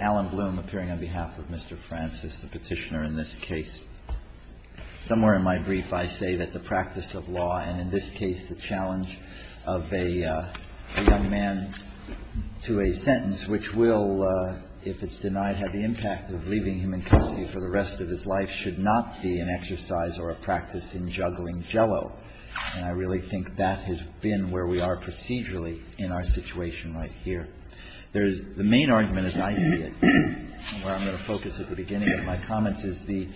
Alan Bloom appearing on behalf of Mr. Francis, the petitioner in this case. Somewhere in my brief, I say that the practice of law, and in this case the challenge of a young man to a sentence, which will, if it's denied, have the impact of leaving him in custody for the rest of his life, should not be an exercise or a practice in juggling jello. And I really think that has been where we are procedurally in our situation right here. There's the main argument, as I see it, and where I'm going to focus at the beginning of my comments, is the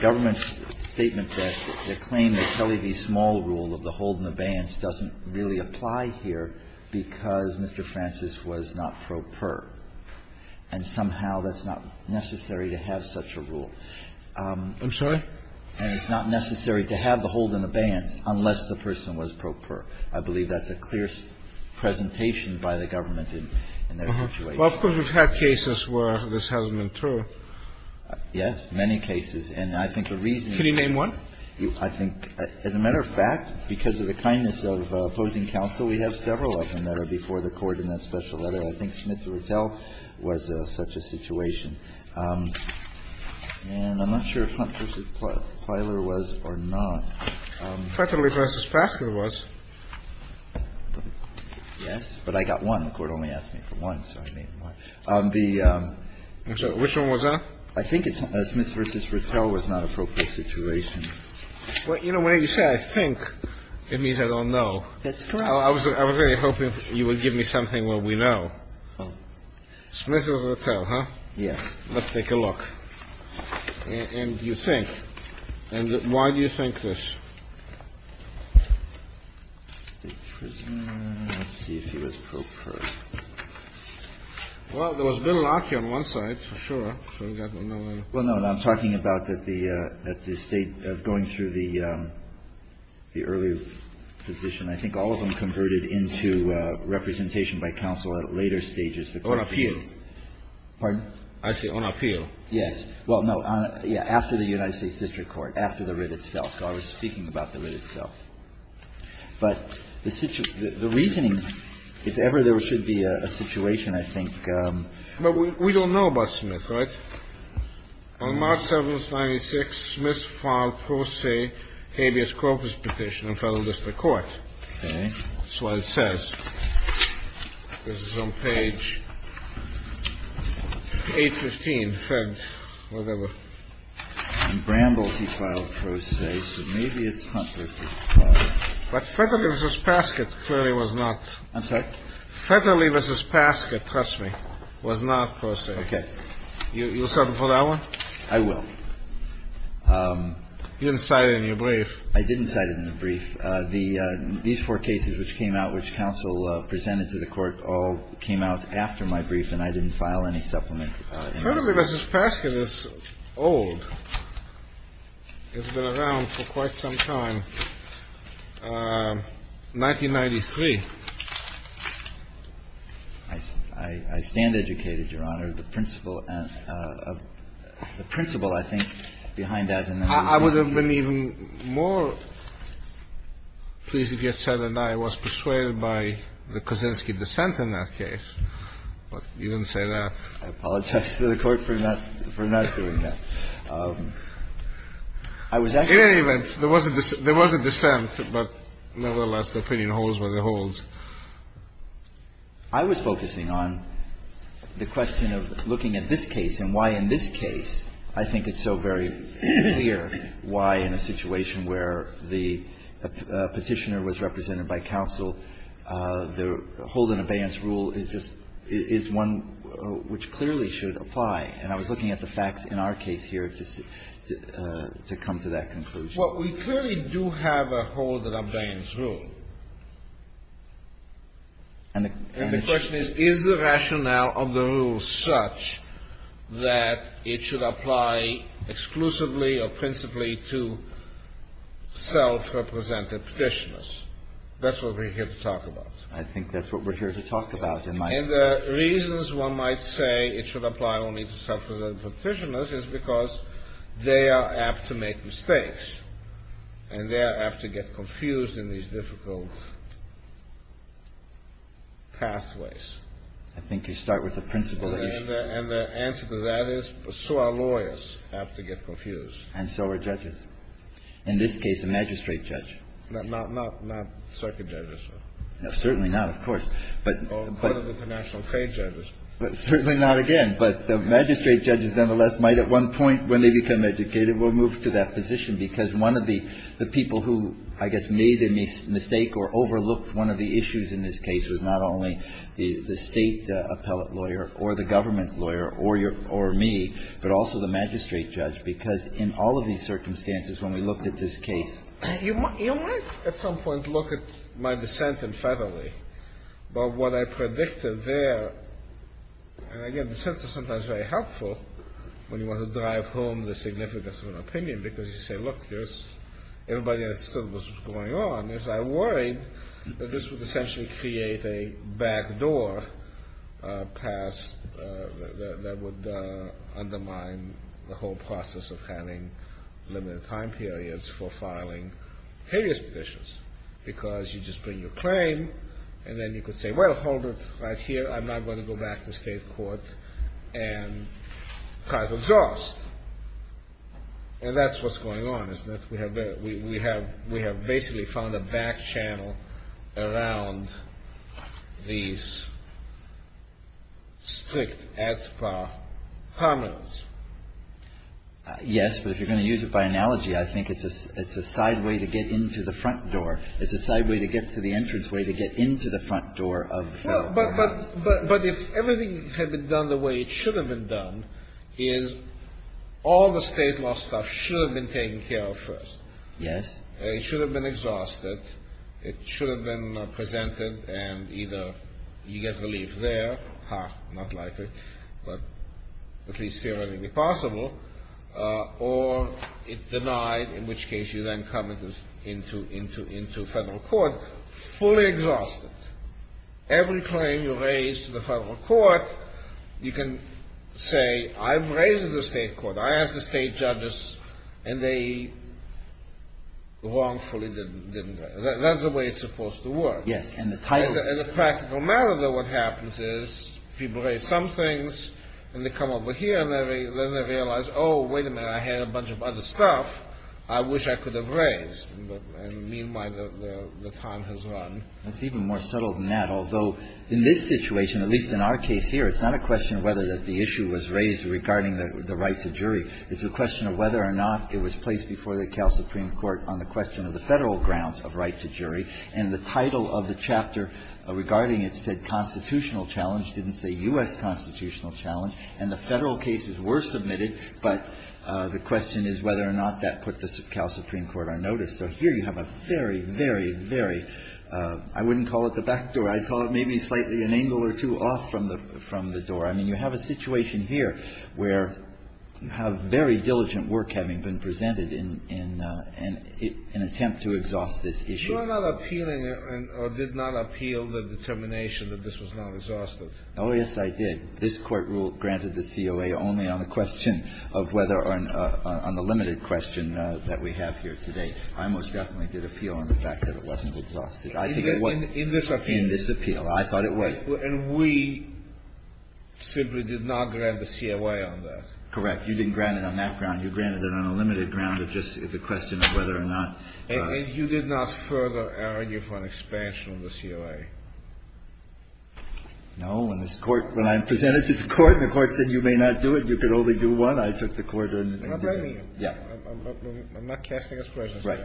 government's statement that the claim that Kelly v. Small rule of the hold and abeyance doesn't really apply here because Mr. Francis was not pro per, and somehow that's not necessary to have such a rule. And it's not necessary to have the hold and abeyance unless the person was pro per. I believe that's a clear presentation by the government in their situation. Kennedy. Well, of course, we've had cases where this hasn't been true. Alito. Yes, many cases. And I think the reason you need to name one, I think, as a matter of fact, because of the kindness of opposing counsel, we have several of them that are before the Court in that special letter. I think Smith v. Retell was such a situation. And I'm not sure if Hunt v. Plyler was or not. Kennedy. Fretterly v. Paskin was. Alito. Yes, but I got one. The Court only asked me for one, so I made one. The the the which one was that? I think it's Smith v. Retell was not an appropriate situation. Kennedy. Well, you know, when you say I think, it means I don't know. Alito. That's correct. Kennedy. I was really hoping you would give me something where we know. Smith v. Retell, huh? Alito. Yes. Kennedy. Let's take a look. And you think. And why do you think this? Alito. The prisoner, let's see if he was pro per. Well, there was Bill Larkin on one side, for sure. I forgot, but no matter. Kennedy. Well, no, I'm talking about that the State going through the early position. I think all of them converted into representation by counsel at later stages. Alito. On appeal. Kennedy. Pardon? Alito. I see, on appeal. Kennedy. Yes. Alito. Well, no, yeah, after the United States District Court, after the writ itself. So I was speaking about the writ itself. But the reasoning, if ever there should be a situation, I think. Kennedy. But we don't know about Smith, right? On March 7th, 1996, Smith filed pro se habeas corpus petition in Federal District Court. Alito. Okay. This is on page 815, fed, whatever. Kennedy. And Bramble, he filed pro se, so maybe it's not pro se. Alito. But Federley v. Paskett clearly was not. Kennedy. I'm sorry? Alito. Federley v. Paskett, trust me, was not pro se. Kennedy. Okay. Alito. You'll settle for that one? Kennedy. I will. Alito. You didn't cite it in your brief. Kennedy. I didn't cite it in the brief. These four cases which came out, which counsel presented to the Court, all came out after my brief, and I didn't file any supplement. Kennedy. Federley v. Paskett is old, has been around for quite some time, 1993. Alito. I stand educated, Your Honor. The principle, I think, behind that. I would have been even more pleased if you had said that I was persuaded by the Kaczynski dissent in that case, but you didn't say that. Kennedy. I apologize to the Court for not doing that. I was actually going to say that. Alito. In any event, there was a dissent, but, nevertheless, the opinion holds what it holds. Kennedy. I was focusing on the question of looking at this case and why in this case I think it's so very clear why in a situation where the Petitioner was represented by counsel, the hold and abeyance rule is just one which clearly should apply. And I was looking at the facts in our case here to come to that conclusion. Kennedy. Well, we clearly do have a hold and abeyance rule. And the question is, is the rationale of the rule such that it should apply exclusively or principally to self-represented Petitioners? That's what we're here to talk about. Alito. I think that's what we're here to talk about. Kennedy. And the reasons one might say it should apply only to self-represented Petitioners is because they are apt to make mistakes and they are apt to get confused in these difficult pathways. Alito. I think you start with the principle that you should. Kennedy. And the answer to that is so are lawyers apt to get confused. Alito. And so are judges. In this case, a magistrate judge. Kennedy. Not circuit judges. Alito. Certainly not, of course. Kennedy. Or part of international trade judges. Alito. Certainly not again. But the magistrate judges, nonetheless, might at one point, when they become educated, will move to that position, because one of the people who, I guess, made a mistake or overlooked one of the issues in this case was not only the State appellate lawyer or the government lawyer or me, but also the magistrate judge. Because in all of these circumstances, when we looked at this case, you might at some point look at my dissent in federally. But what I predicted there, and again, dissents are sometimes very helpful when you want to drive home the significance of an opinion, because you say, look, everybody understood what was going on. I worried that this would essentially create a back door that would undermine the whole process of having limited time periods for filing habeas petitions. Because you just bring your claim, and then you could say, well, hold it right here. I'm not going to go back to state court and try to adjust. And that's what's going on, isn't it? We have basically found a back channel around these strict ad par prominence. Yes, but if you're going to use it by analogy, I think it's a side way to get into the front door. It's a side way to get to the entrance way to get into the front door of the federal government. But if everything had been done the way it should have been done, is all the state law stuff should have been taken care of first. Yes. It should have been exhausted. It should have been presented, and either you get relief there, ha, not likely, but at least theoretically possible, or it's denied, in which case you then come into federal court fully exhausted. Every claim you raise to the federal court, you can say, I've raised it to state court. I asked the state judges, and they wrongfully didn't raise it. That's the way it's supposed to work. Yes. As a practical matter, though, what happens is people raise some things, and they come over here, and then they realize, oh, wait a minute, I had a bunch of other stuff I wish I could have raised. And meanwhile, the time has run. That's even more subtle than that, although in this situation, at least in our case here, it's not a question of whether the issue was raised regarding the right to jury. It's a question of whether or not it was placed before the Cal Supreme Court on the question of the federal grounds of right to jury, and the title of the chapter regarding it said constitutional challenge, didn't say U.S. constitutional challenge. And the federal cases were submitted, but the question is whether or not that put the Cal Supreme Court on notice. So here you have a very, very, very, I wouldn't call it the back door. I'd call it maybe slightly an angle or two off from the door. I mean, you have a situation here where you have very diligent work having been presented in an attempt to exhaust this issue. You are not appealing or did not appeal the determination that this was not exhausted. Oh, yes, I did. This Court rule granted the COA only on the question of whether on the limited question that we have here today. I most definitely did appeal on the fact that it wasn't exhausted. I think it was. In this appeal. In this appeal. I thought it was. And we simply did not grant the COA on that. Correct. You didn't grant it on that ground. You granted it on a limited ground of just the question of whether or not. And you did not further argue for an expansion of the COA? No. In this Court, when I presented to the Court and the Court said you may not do it, you could only do one, I took the Court and did it. I'm not blaming you. I'm not casting a speculation. Right.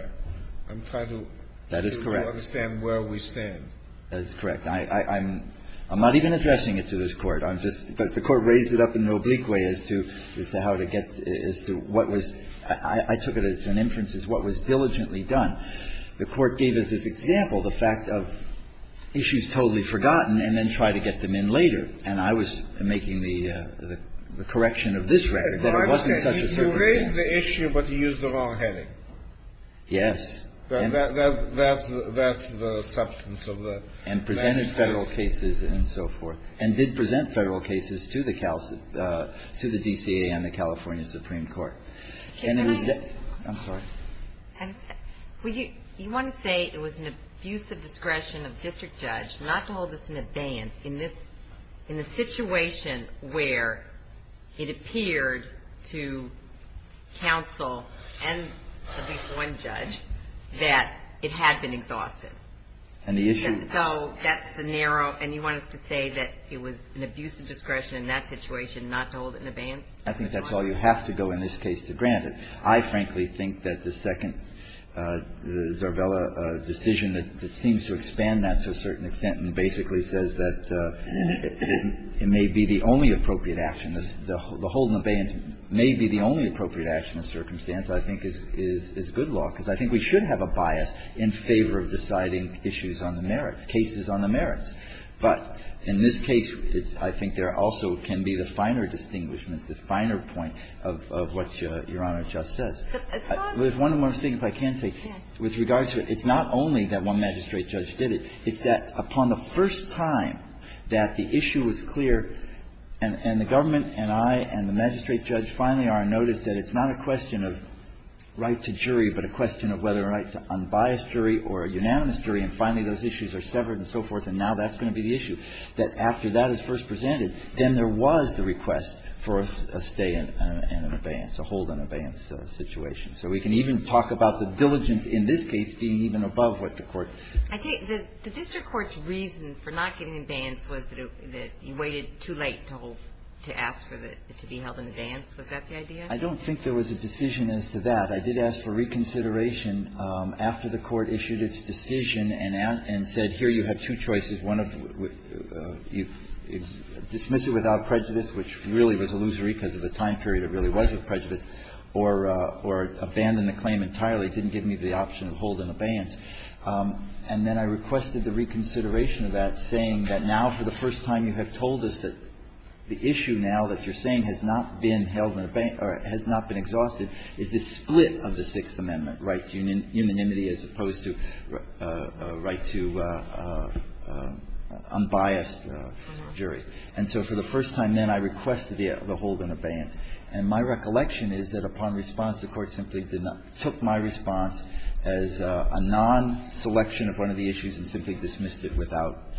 I'm trying to. That is correct. To understand where we stand. That is correct. I'm not even addressing it to this Court. I'm just the Court raised it up in an oblique way as to how to get, as to what was – I took it as an inference as to what was diligent and what was not diligently done. The Court gave us this example, the fact of issues totally forgotten and then try to get them in later. And I was making the correction of this record, that it wasn't such a certain thing. You raised the issue, but you used the wrong heading. Yes. That's the substance of the – And presented Federal cases and so forth. And did present Federal cases to the DCA and the California Supreme Court. And it was – I'm sorry. You want to say it was an abuse of discretion of the district judge not to hold us in abeyance in the situation where it appeared to counsel and at least one judge that it had been exhausted. And the issue – So that's the narrow – and you want us to say that it was an abuse of discretion in that situation not to hold it in abeyance? I think that's all you have to go in this case to grant it. I frankly think that the second Zarbella decision that seems to expand that to a certain extent and basically says that it may be the only appropriate action, the holding of abeyance may be the only appropriate action in this circumstance, I think is good law, because I think we should have a bias in favor of deciding issues on the merits, cases on the merits. But in this case, I think there also can be the finer distinguishment, the finer point of what Your Honor just says. As far as – There's one more thing, if I can say, with regards to – it's not only that one magistrate judge did it. It's that upon the first time that the issue was clear and the government and I and the magistrate judge finally are on notice that it's not a question of right to jury, but a question of whether a right to unbiased jury or unanimous jury, and finally those issues are severed and so forth, and now that's going to be the issue, that after that is first presented, then there was the request for a stay in abeyance, a hold on abeyance situation. So we can even talk about the diligence in this case being even above what the Court – I think the district court's reason for not giving abeyance was that it – that you waited too late to hold – to ask for the – to be held in abeyance. Was that the idea? I don't think there was a decision as to that. I did ask for reconsideration after the Court issued its decision and said, here you have two choices. One of – dismiss it without prejudice, which really was illusory because of the time period it really was with prejudice, or abandon the claim entirely. It didn't give me the option of hold and abeyance. And then I requested the reconsideration of that, saying that now for the first time you have told us that the issue now that you're saying has not been held in abeyance or has not been exhausted is this split of the Sixth Amendment, right to unanimity as opposed to right to unbiased jury. And so for the first time then I requested the hold and abeyance. And my recollection is that upon response the Court simply did not – took my response as a non-selection of one of the issues and simply dismissed it without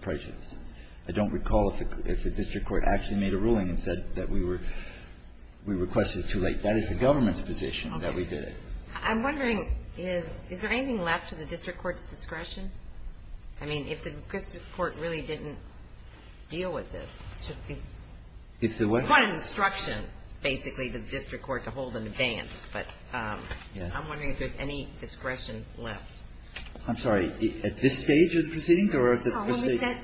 prejudice. I don't recall if the district court actually made a ruling and said that we were requesting it too late. That is the government's position that we did it. Ginsburg. I'm wondering, is there anything left to the district court's discretion? I mean, if the district court really didn't deal with this, it should be quite an instruction, basically, to the district court to hold and abeyance. But I'm wondering if there's any discretion left. Verrilli, I'm sorry. At this stage of the proceedings or at the first stage? Ginsburg.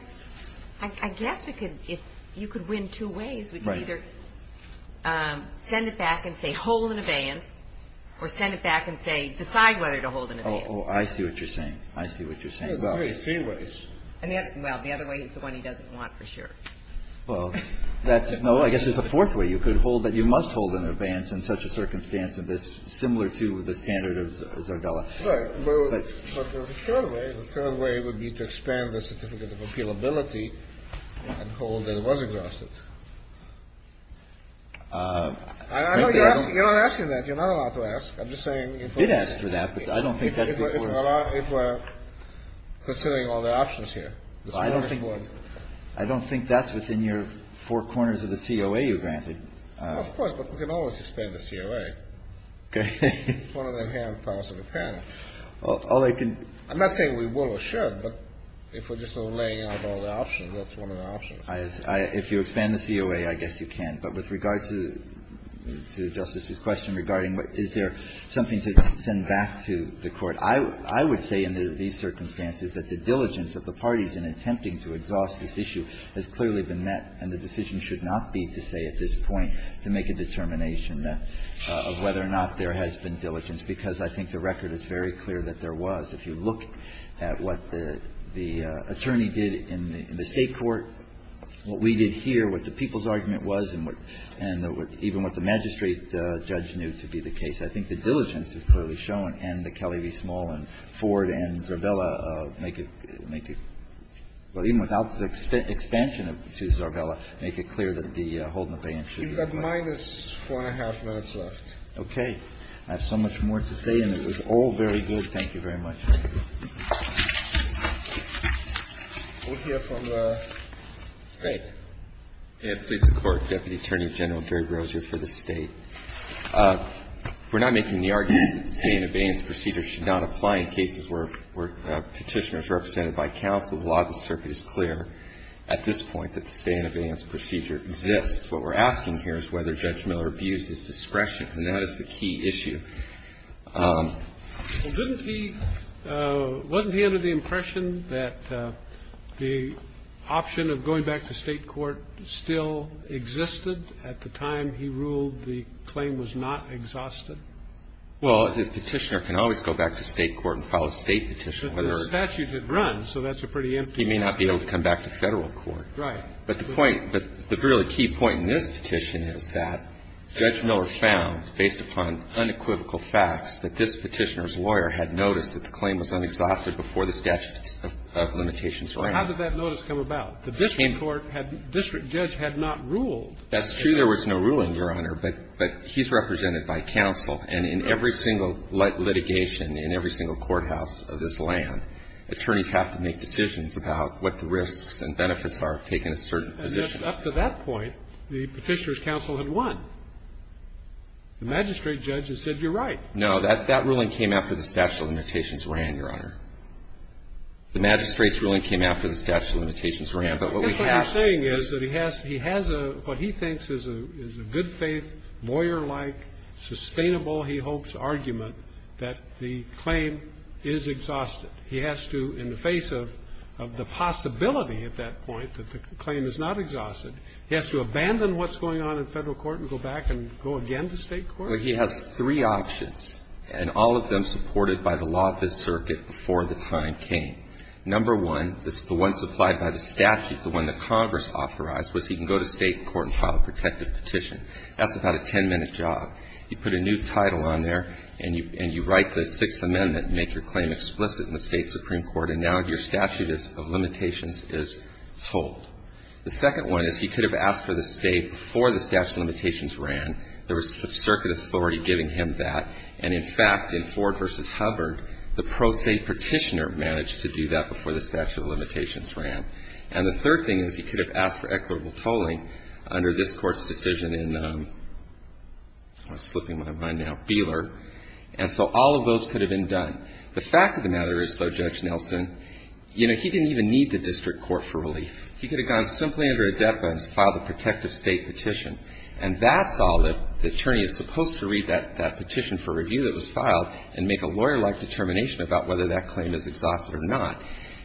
I guess it could – if you could win two ways, we can either send it back and say hold and abeyance or send it back and say decide whether to hold and abeyance. Oh, I see what you're saying. I see what you're saying. Well, there's three ways. And the other – well, the other way is the one he doesn't want for sure. Well, that's – no, I guess there's a fourth way. You could hold – you must hold an abeyance in such a circumstance similar to the standard of Zardella. Right. But the third way, the third way would be to expand the certificate of appealability and hold that it was exhausted. I know you're not asking that. You're not allowed to ask. I'm just saying – We did ask for that, but I don't think that's before us. If we're considering all the options here. Well, I don't think – I don't think that's within your four corners of the COA you're granted. Well, of course, but we can always expand the COA. Okay. It's one of them hand-pulsing apparently. All I can – I'm not saying we will or should, but if we're just sort of laying out all the options, that's one of the options. If you expand the COA, I guess you can. But with regard to the Justice's question regarding is there something to send back to the Court, I would say in these circumstances that the diligence of the parties in attempting to exhaust this issue has clearly been met, and the decision should not be to say at this point to make a determination of whether or not there has been diligence, because I think the record is very clear that there was. If you look at what the attorney did in the State court, what we did here, what the people's argument was, and even what the magistrate judge knew to be the case, I think the diligence is clearly shown, and the Kelly v. Small and Ford and Zarbella make it – make it – well, even without the expansion to Zarbella, make it clear that the hold and abeyance should be required. You've got minus four and a half minutes left. Okay. I have so much more to say, and it was all very good. Thank you very much. Thank you. We'll hear from the State. Please, the Court, Deputy Attorney General Gary Roser for the State. We're not making the argument that the stay and abeyance procedure should not apply in cases where Petitioner is represented by counsel while the circuit is clear. At this point, the stay and abeyance procedure exists. What we're asking here is whether Judge Miller abused his discretion, and that is the key issue. Well, didn't he – wasn't he under the impression that the option of going back to State court still existed at the time he ruled the claim was not exhausted? Well, Petitioner can always go back to State court and file a State petition. But the statute had run, so that's a pretty empty – He may not be able to come back to Federal court. Right. But the point – but the really key point in this petition is that Judge Miller found, based upon unequivocal facts, that this Petitioner's lawyer had noticed that the claim was unexhausted before the statute of limitations ran. How did that notice come about? The district court had – the district judge had not ruled. That's true. There was no ruling, Your Honor. But he's represented by counsel. And in every single litigation in every single courthouse of this land, attorneys have to make decisions about what the risks and benefits are of taking a certain position. And up to that point, the Petitioner's counsel had won. The magistrate judge has said, you're right. No. That ruling came after the statute of limitations ran, Your Honor. The magistrate's ruling came after the statute of limitations ran. But what we have – I guess what he's saying is that he has – he has a – what he thinks is a good-faith, lawyer-like, sustainable, he hopes, argument that the claim is exhausted. He has to, in the face of the possibility at that point that the claim is not exhausted, he has to abandon what's going on in Federal court and go back and go again to State court? Well, he has three options, and all of them supported by the law of this circuit before the time came. Number one, the one supplied by the statute, the one that Congress authorized, was he can go to State court and file a protective petition. That's about a 10-minute job. You put a new title on there, and you write the Sixth Amendment and make your claim explicit in the State supreme court, and now your statute of limitations is told. The second one is he could have asked for the State before the statute of limitations ran. There was a circuit authority giving him that, and, in fact, in Ford v. Hubbard, the pro se petitioner managed to do that before the statute of limitations ran. And the third thing is he could have asked for equitable tolling under this Court's decision in – I'm slipping my mind now – Beeler. And so all of those could have been done. The fact of the matter is, though, Judge Nelson, you know, he didn't even need the district court for relief. He could have gone simply under a DEPA and filed a protective State petition. And that's all if the attorney is supposed to read that petition for review that was filed and make a lawyer-like determination about whether that claim is exhausted or not.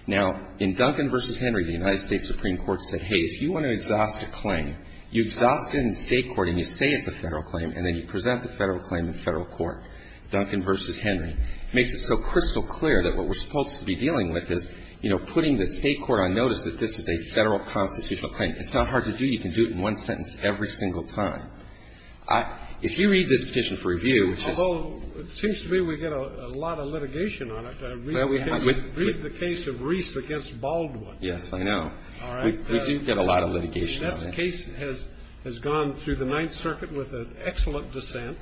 Now, in Duncan v. Henry, the United States Supreme Court said, hey, if you want to exhaust a claim, you exhaust it in State court, and you say it's a Federal claim, and then you present the Federal claim in Federal court, Duncan v. Henry. It makes it so crystal clear that what we're supposed to be dealing with is, you know, putting the State court on notice that this is a Federal constitutional claim. It's not hard to do. You can do it in one sentence every single time. I – if you read this petition for review, which is – Although it seems to me we get a lot of litigation on it. I read the case of Reese against Baldwin. Yes, I know. All right. We do get a lot of litigation on that. That case has gone through the Ninth Circuit with an excellent dissent,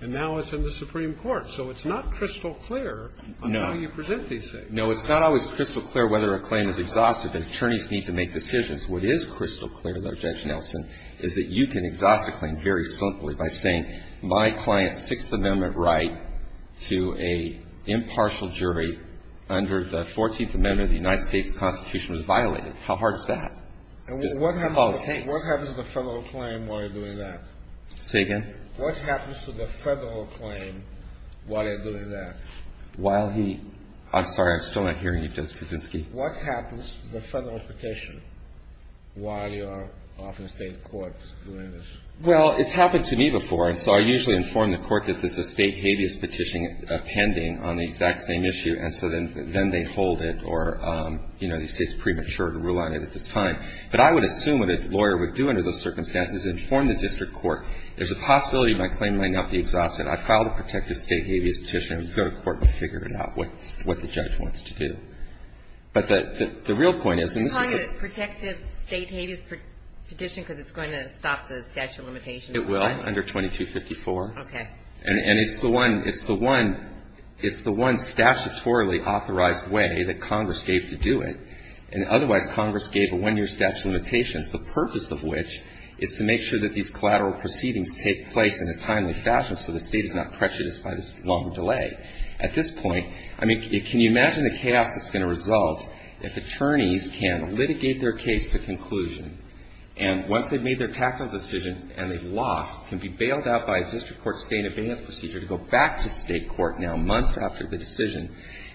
and now it's in the Supreme Court. So it's not crystal clear on how you present these things. No. It's not always crystal clear whether a claim is exhausted. The attorneys need to make decisions. What is crystal clear, though, Judge Nelson, is that you can exhaust a claim very simply by saying, my client's Sixth Amendment right to a impartial jury under the Fourteenth Amendment of the United States Constitution was violated. How hard is that? And what happens to the Federal claim while you're doing that? Say again? What happens to the Federal claim while you're doing that? While he – I'm sorry. I'm still not hearing you, Judge Kuczynski. What happens to the Federal petition while you're off in State court doing this? Well, it's happened to me before, and so I usually inform the court that there's a State habeas petition pending on the exact same issue, and so then they hold it, or, you know, the State's premature to rule on it at this time. But I would assume what a lawyer would do under those circumstances is inform the possibility that my claim might not be exhausted. I filed a protective State habeas petition. I would go to court and figure it out, what the judge wants to do. But the real point is, and this is a good – You're calling it a protective State habeas petition because it's going to stop the statute of limitations, right? It will, under 2254. Okay. And it's the one – it's the one – it's the one statutorily authorized way that Congress gave to do it. And otherwise, Congress gave a one-year statute of limitations, the purpose of which is to make sure that these collateral proceedings take place in a timely fashion so the State is not prejudiced by this longer delay. At this point, I mean, can you imagine the chaos that's going to result if attorneys can litigate their case to conclusion, and once they've made their tactical decision and they've lost, can be bailed out by a district court State habeas procedure to go back to State court now, months after the decision,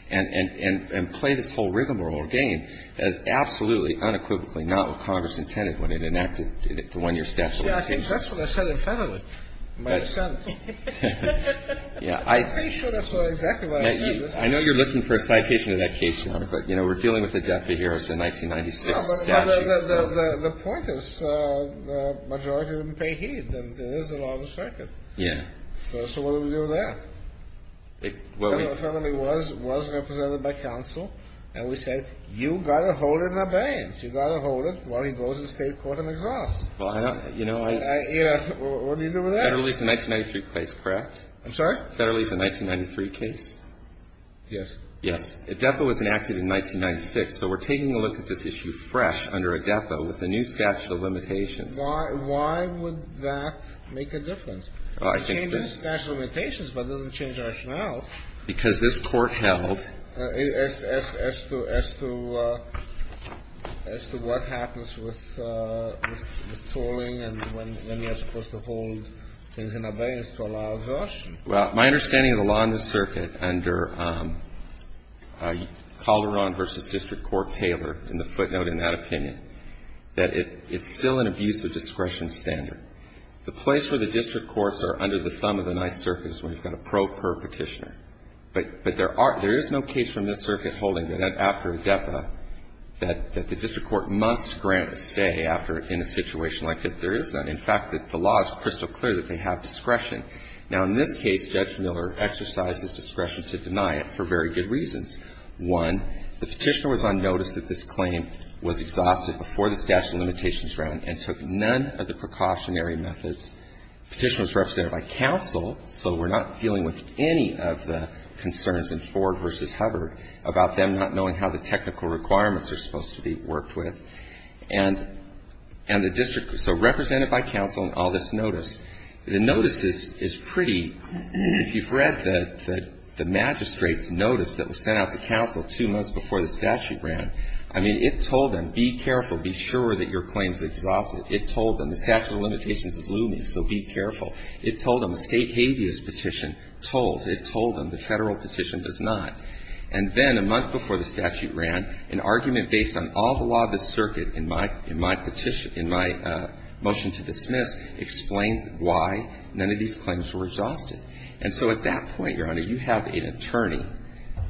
and play this whole rigmarole game that is absolutely, unequivocally not what Congress intended when it enacted the one-year statute of limitations? That's what I said in Fennelly, in my dissent. Yeah, I – I'm pretty sure that's what exactly what I said. I know you're looking for a citation of that case, Your Honor, but, you know, we're dealing with the death of Harrison 1996 statute. The point is, the majority didn't pay heed, and it is the law of the circuit. Yeah. So what do we do with that? Fennelly was represented by counsel, and we said, you've got to hold it in abeyance. You've got to hold it while he goes to State court and exhausts. Well, I don't – you know, I – You know, what do you do with that? Federalese the 1993 case, correct? I'm sorry? Federalese the 1993 case? Yes. Yes. A depo was enacted in 1996, so we're taking a look at this issue fresh under a depo with a new statute of limitations. Why – why would that make a difference? It changes statute of limitations, but it doesn't change rationales. Because this Court held – As to – as to what happens with tolling and when you're supposed to hold things in abeyance to allow version. Well, my understanding of the law in the circuit under Calderon v. District Court Taylor in the footnote in that opinion, that it's still an abuse of discretion standard. The place where the district courts are under the thumb of the Ninth Circuit is when you've got a pro per petitioner. But there are – there is no case from this circuit holding that after a depo that the district court must grant a stay after – in a situation like that. There is none. In fact, the law is crystal clear that they have discretion. Now, in this case, Judge Miller exercised his discretion to deny it for very good reasons. One, the petitioner was on notice that this claim was exhausted before the statute of limitations ran and took none of the precautionary methods. The petitioner was represented by counsel, so we're not dealing with any of the concerns in Ford v. Hubbard about them not knowing how the technical requirements are supposed to be worked with. And the district – so represented by counsel on all this notice. The notice is pretty – if you've read the magistrate's notice that was sent out to counsel two months before the statute ran, I mean, it told them, be careful, be sure that your claim is exhausted. It told them the statute of limitations is looming, so be careful. It told them a State habeas petition told – it told them the Federal petition does not. And then a month before the statute ran, an argument based on all the law of the circuit in my – in my petition – in my motion to dismiss explained why none of these claims were exhausted. And so at that point, Your Honor, you have an attorney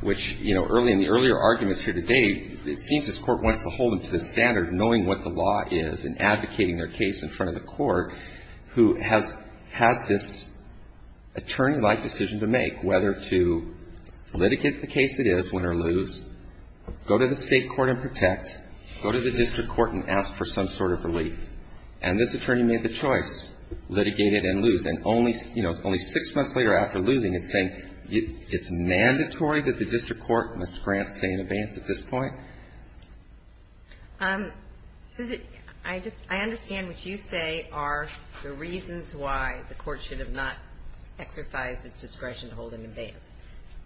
which, you know, early in the earlier arguments here today, it seems this Court wants to hold them to the standard of knowing what the law is and advocating their case in front of the Court who has – has this attorney-like decision to make whether to litigate the case it is, win or lose, go to the State court and protect, go to the district court and ask for some sort of relief. And this attorney made the choice, litigated and lose. And only – you know, it's only six months later after losing, it's saying it's mandatory that the district court must grant stay in abeyance at this point? I just – I understand what you say are the reasons why the Court should have not exercised its discretion to hold them in abeyance.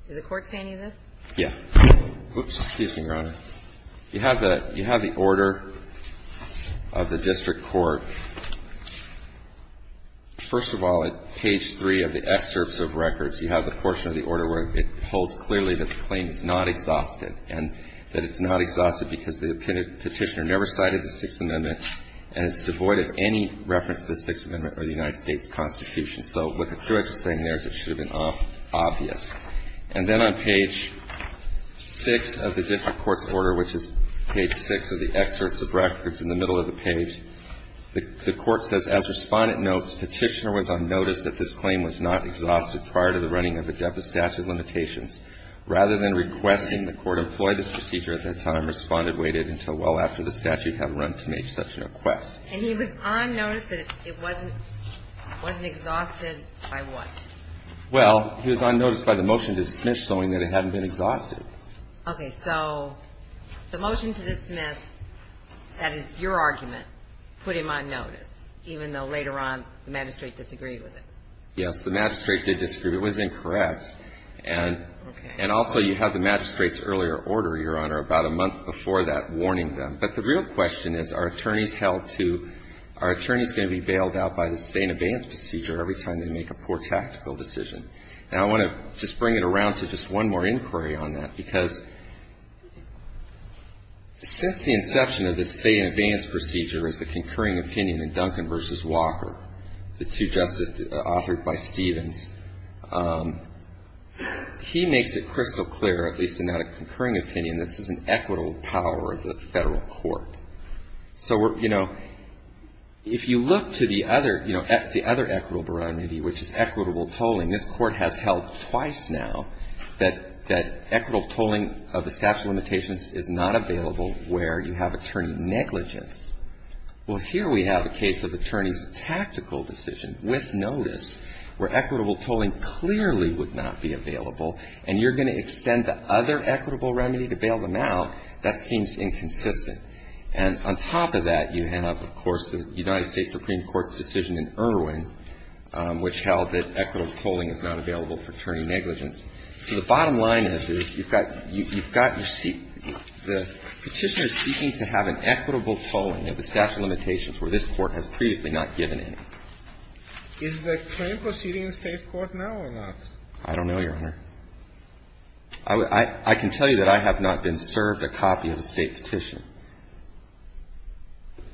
Did the Court say any of this? Yeah. Oops. Excuse me, Your Honor. You have the – you have the order of the district court. First of all, at page 3 of the excerpts of records, you have the portion of the order where it holds clearly that the claim is not exhausted and that it's not exhausted because the Petitioner never cited the Sixth Amendment and it's devoid of any reference to the Sixth Amendment or the United States Constitution. So what the clerk is saying there is it should have been obvious. And then on page 6 of the district court's order, which is page 6 of the excerpts of records in the middle of the page, the Court says, as Respondent notes, Petitioner was on notice that this claim was not exhausted prior to the running of the statute of limitations. Rather than requesting the Court employ this procedure at that time, Respondent waited until well after the statute had run to make such a request. And he was on notice that it wasn't – wasn't exhausted by what? Well, he was on notice by the motion to dismiss showing that it hadn't been exhausted. Okay. So the motion to dismiss, that is your argument, put him on notice, even though later on the magistrate disagreed with it? Yes. The magistrate did disagree. It was incorrect. And also you have the magistrate's earlier order, Your Honor, about a month before that warning them. But the real question is, are attorneys held to – are attorneys going to be bailed out by the stay-in-abeyance procedure every time they make a poor tactical decision? And I want to just bring it around to just one more inquiry on that, because since the inception of the stay-in-abeyance procedure as the concurring opinion in Duncan v. Walker, the two justices authored by Stevens, he makes it crystal clear, at least in that concurring opinion, this is an equitable power of the Federal court. So, you know, if you look to the other, you know, the other equitable barometer, which is equitable tolling, this Court has held twice now that – that equitable tolling of a statute of limitations is not available where you have attorney negligence. Well, here we have a case of attorney's tactical decision with notice where equitable tolling clearly would not be available, and you're going to extend the other equitable remedy to bail them out. That seems inconsistent. And on top of that, you have, of course, the United States Supreme Court's decision in Irwin, which held that equitable tolling is not available for attorney negligence. So the bottom line is, is you've got – you've got – the Petitioner is seeking to have an equitable tolling of the statute of limitations where this Court has previously not given any. Is the claim proceeding in the State court now or not? I don't know, Your Honor. I can tell you that I have not been served a copy of the State petition.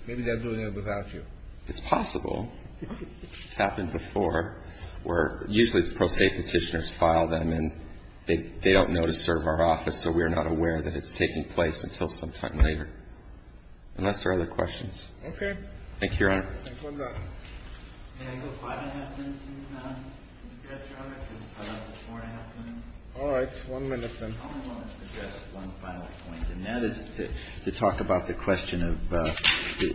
Maybe they're doing it without you. It's possible. It's happened before, where usually it's pro State petitioners file them, and they don't know to serve our office, so we're not aware that it's taking place until sometime later, unless there are other questions. Okay. Thank you, Your Honor. Thanks. One moment. Can I go five and a half minutes, please, ma'am? If you've got time, I can cut out the four and a half minutes. All right. One minute, then. I only wanted to address one final point, and that is to talk about the question of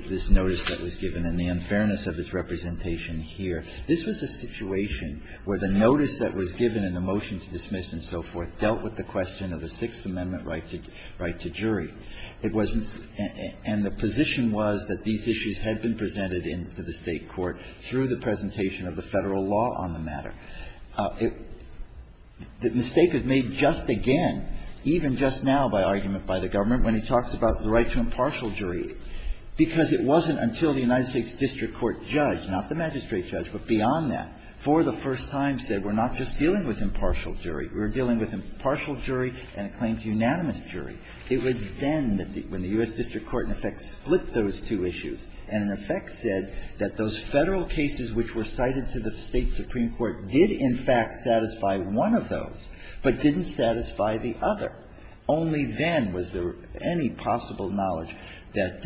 this notice that was given and the unfairness of its representation here. This was a situation where the notice that was given in the motion to dismiss and so forth dealt with the question of a Sixth Amendment right to jury. It wasn't and the position was that these issues had been presented in to the State court through the presentation of the Federal law on the matter. The mistake is made just again, even just now by argument by the government, when he talks about the right to impartial jury, because it wasn't until the United States district court judge, not the magistrate judge, but beyond that, for the first time said we're not just dealing with impartial jury, we're dealing with impartial jury and a claim to unanimous jury. It was then when the U.S. district court in effect split those two issues and in effect said that those Federal cases which were cited to the State supreme court did in fact satisfy one of those, but didn't satisfy the other. Only then was there any possible knowledge that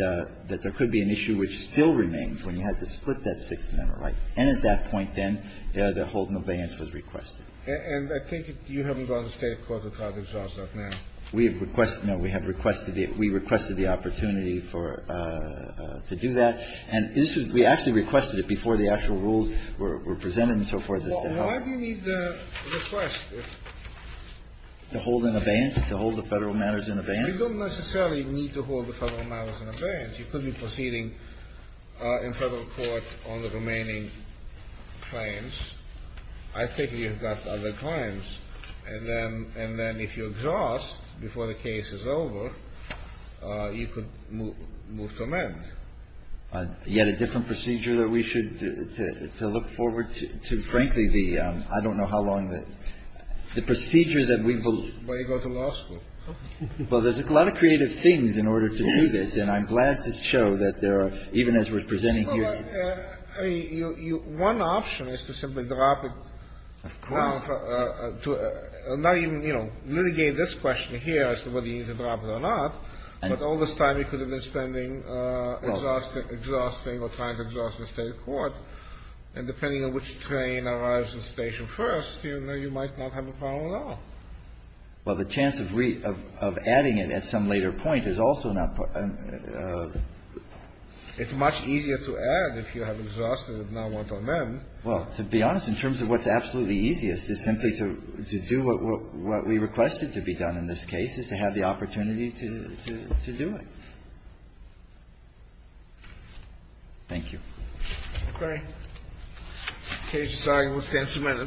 there could be an issue which still remains when you had to split that Sixth Amendment right. And at that point, then, the holding of balance was requested. And I think you haven't gone to State court to try to exhaust that now. We have requested the opportunity to do that. And we actually requested it before the actual rules were presented and so forth. Why do you need to request it? To hold an abeyance, to hold the Federal matters in abeyance. You don't necessarily need to hold the Federal matters in abeyance. You could be proceeding in Federal court on the remaining claims. I think you've got other claims. And then if you exhaust before the case is over, you could move to amend. Yet a different procedure that we should look forward to. Frankly, the ‑‑ I don't know how long the procedure that we will ‑‑ Why don't you go to law school? Well, there's a lot of creative things in order to do this, and I'm glad to show that there are, even as we're presenting here today. I mean, you ‑‑ one option is to simply drop it now to not even, you know, litigate this question here as to whether you need to drop it or not, but all this time you could have been spending exhausting or trying to exhaust the State court. And depending on which train arrives at the station first, you might not have a problem at all. Well, the chance of adding it at some later point is also not part of ‑‑ It's much easier to add if you have exhausted it and now want to amend. Well, to be honest, in terms of what's absolutely easiest is simply to do what we requested to be done in this case, is to have the opportunity to do it. Thank you. Okay. The case is signed and will stand submitted.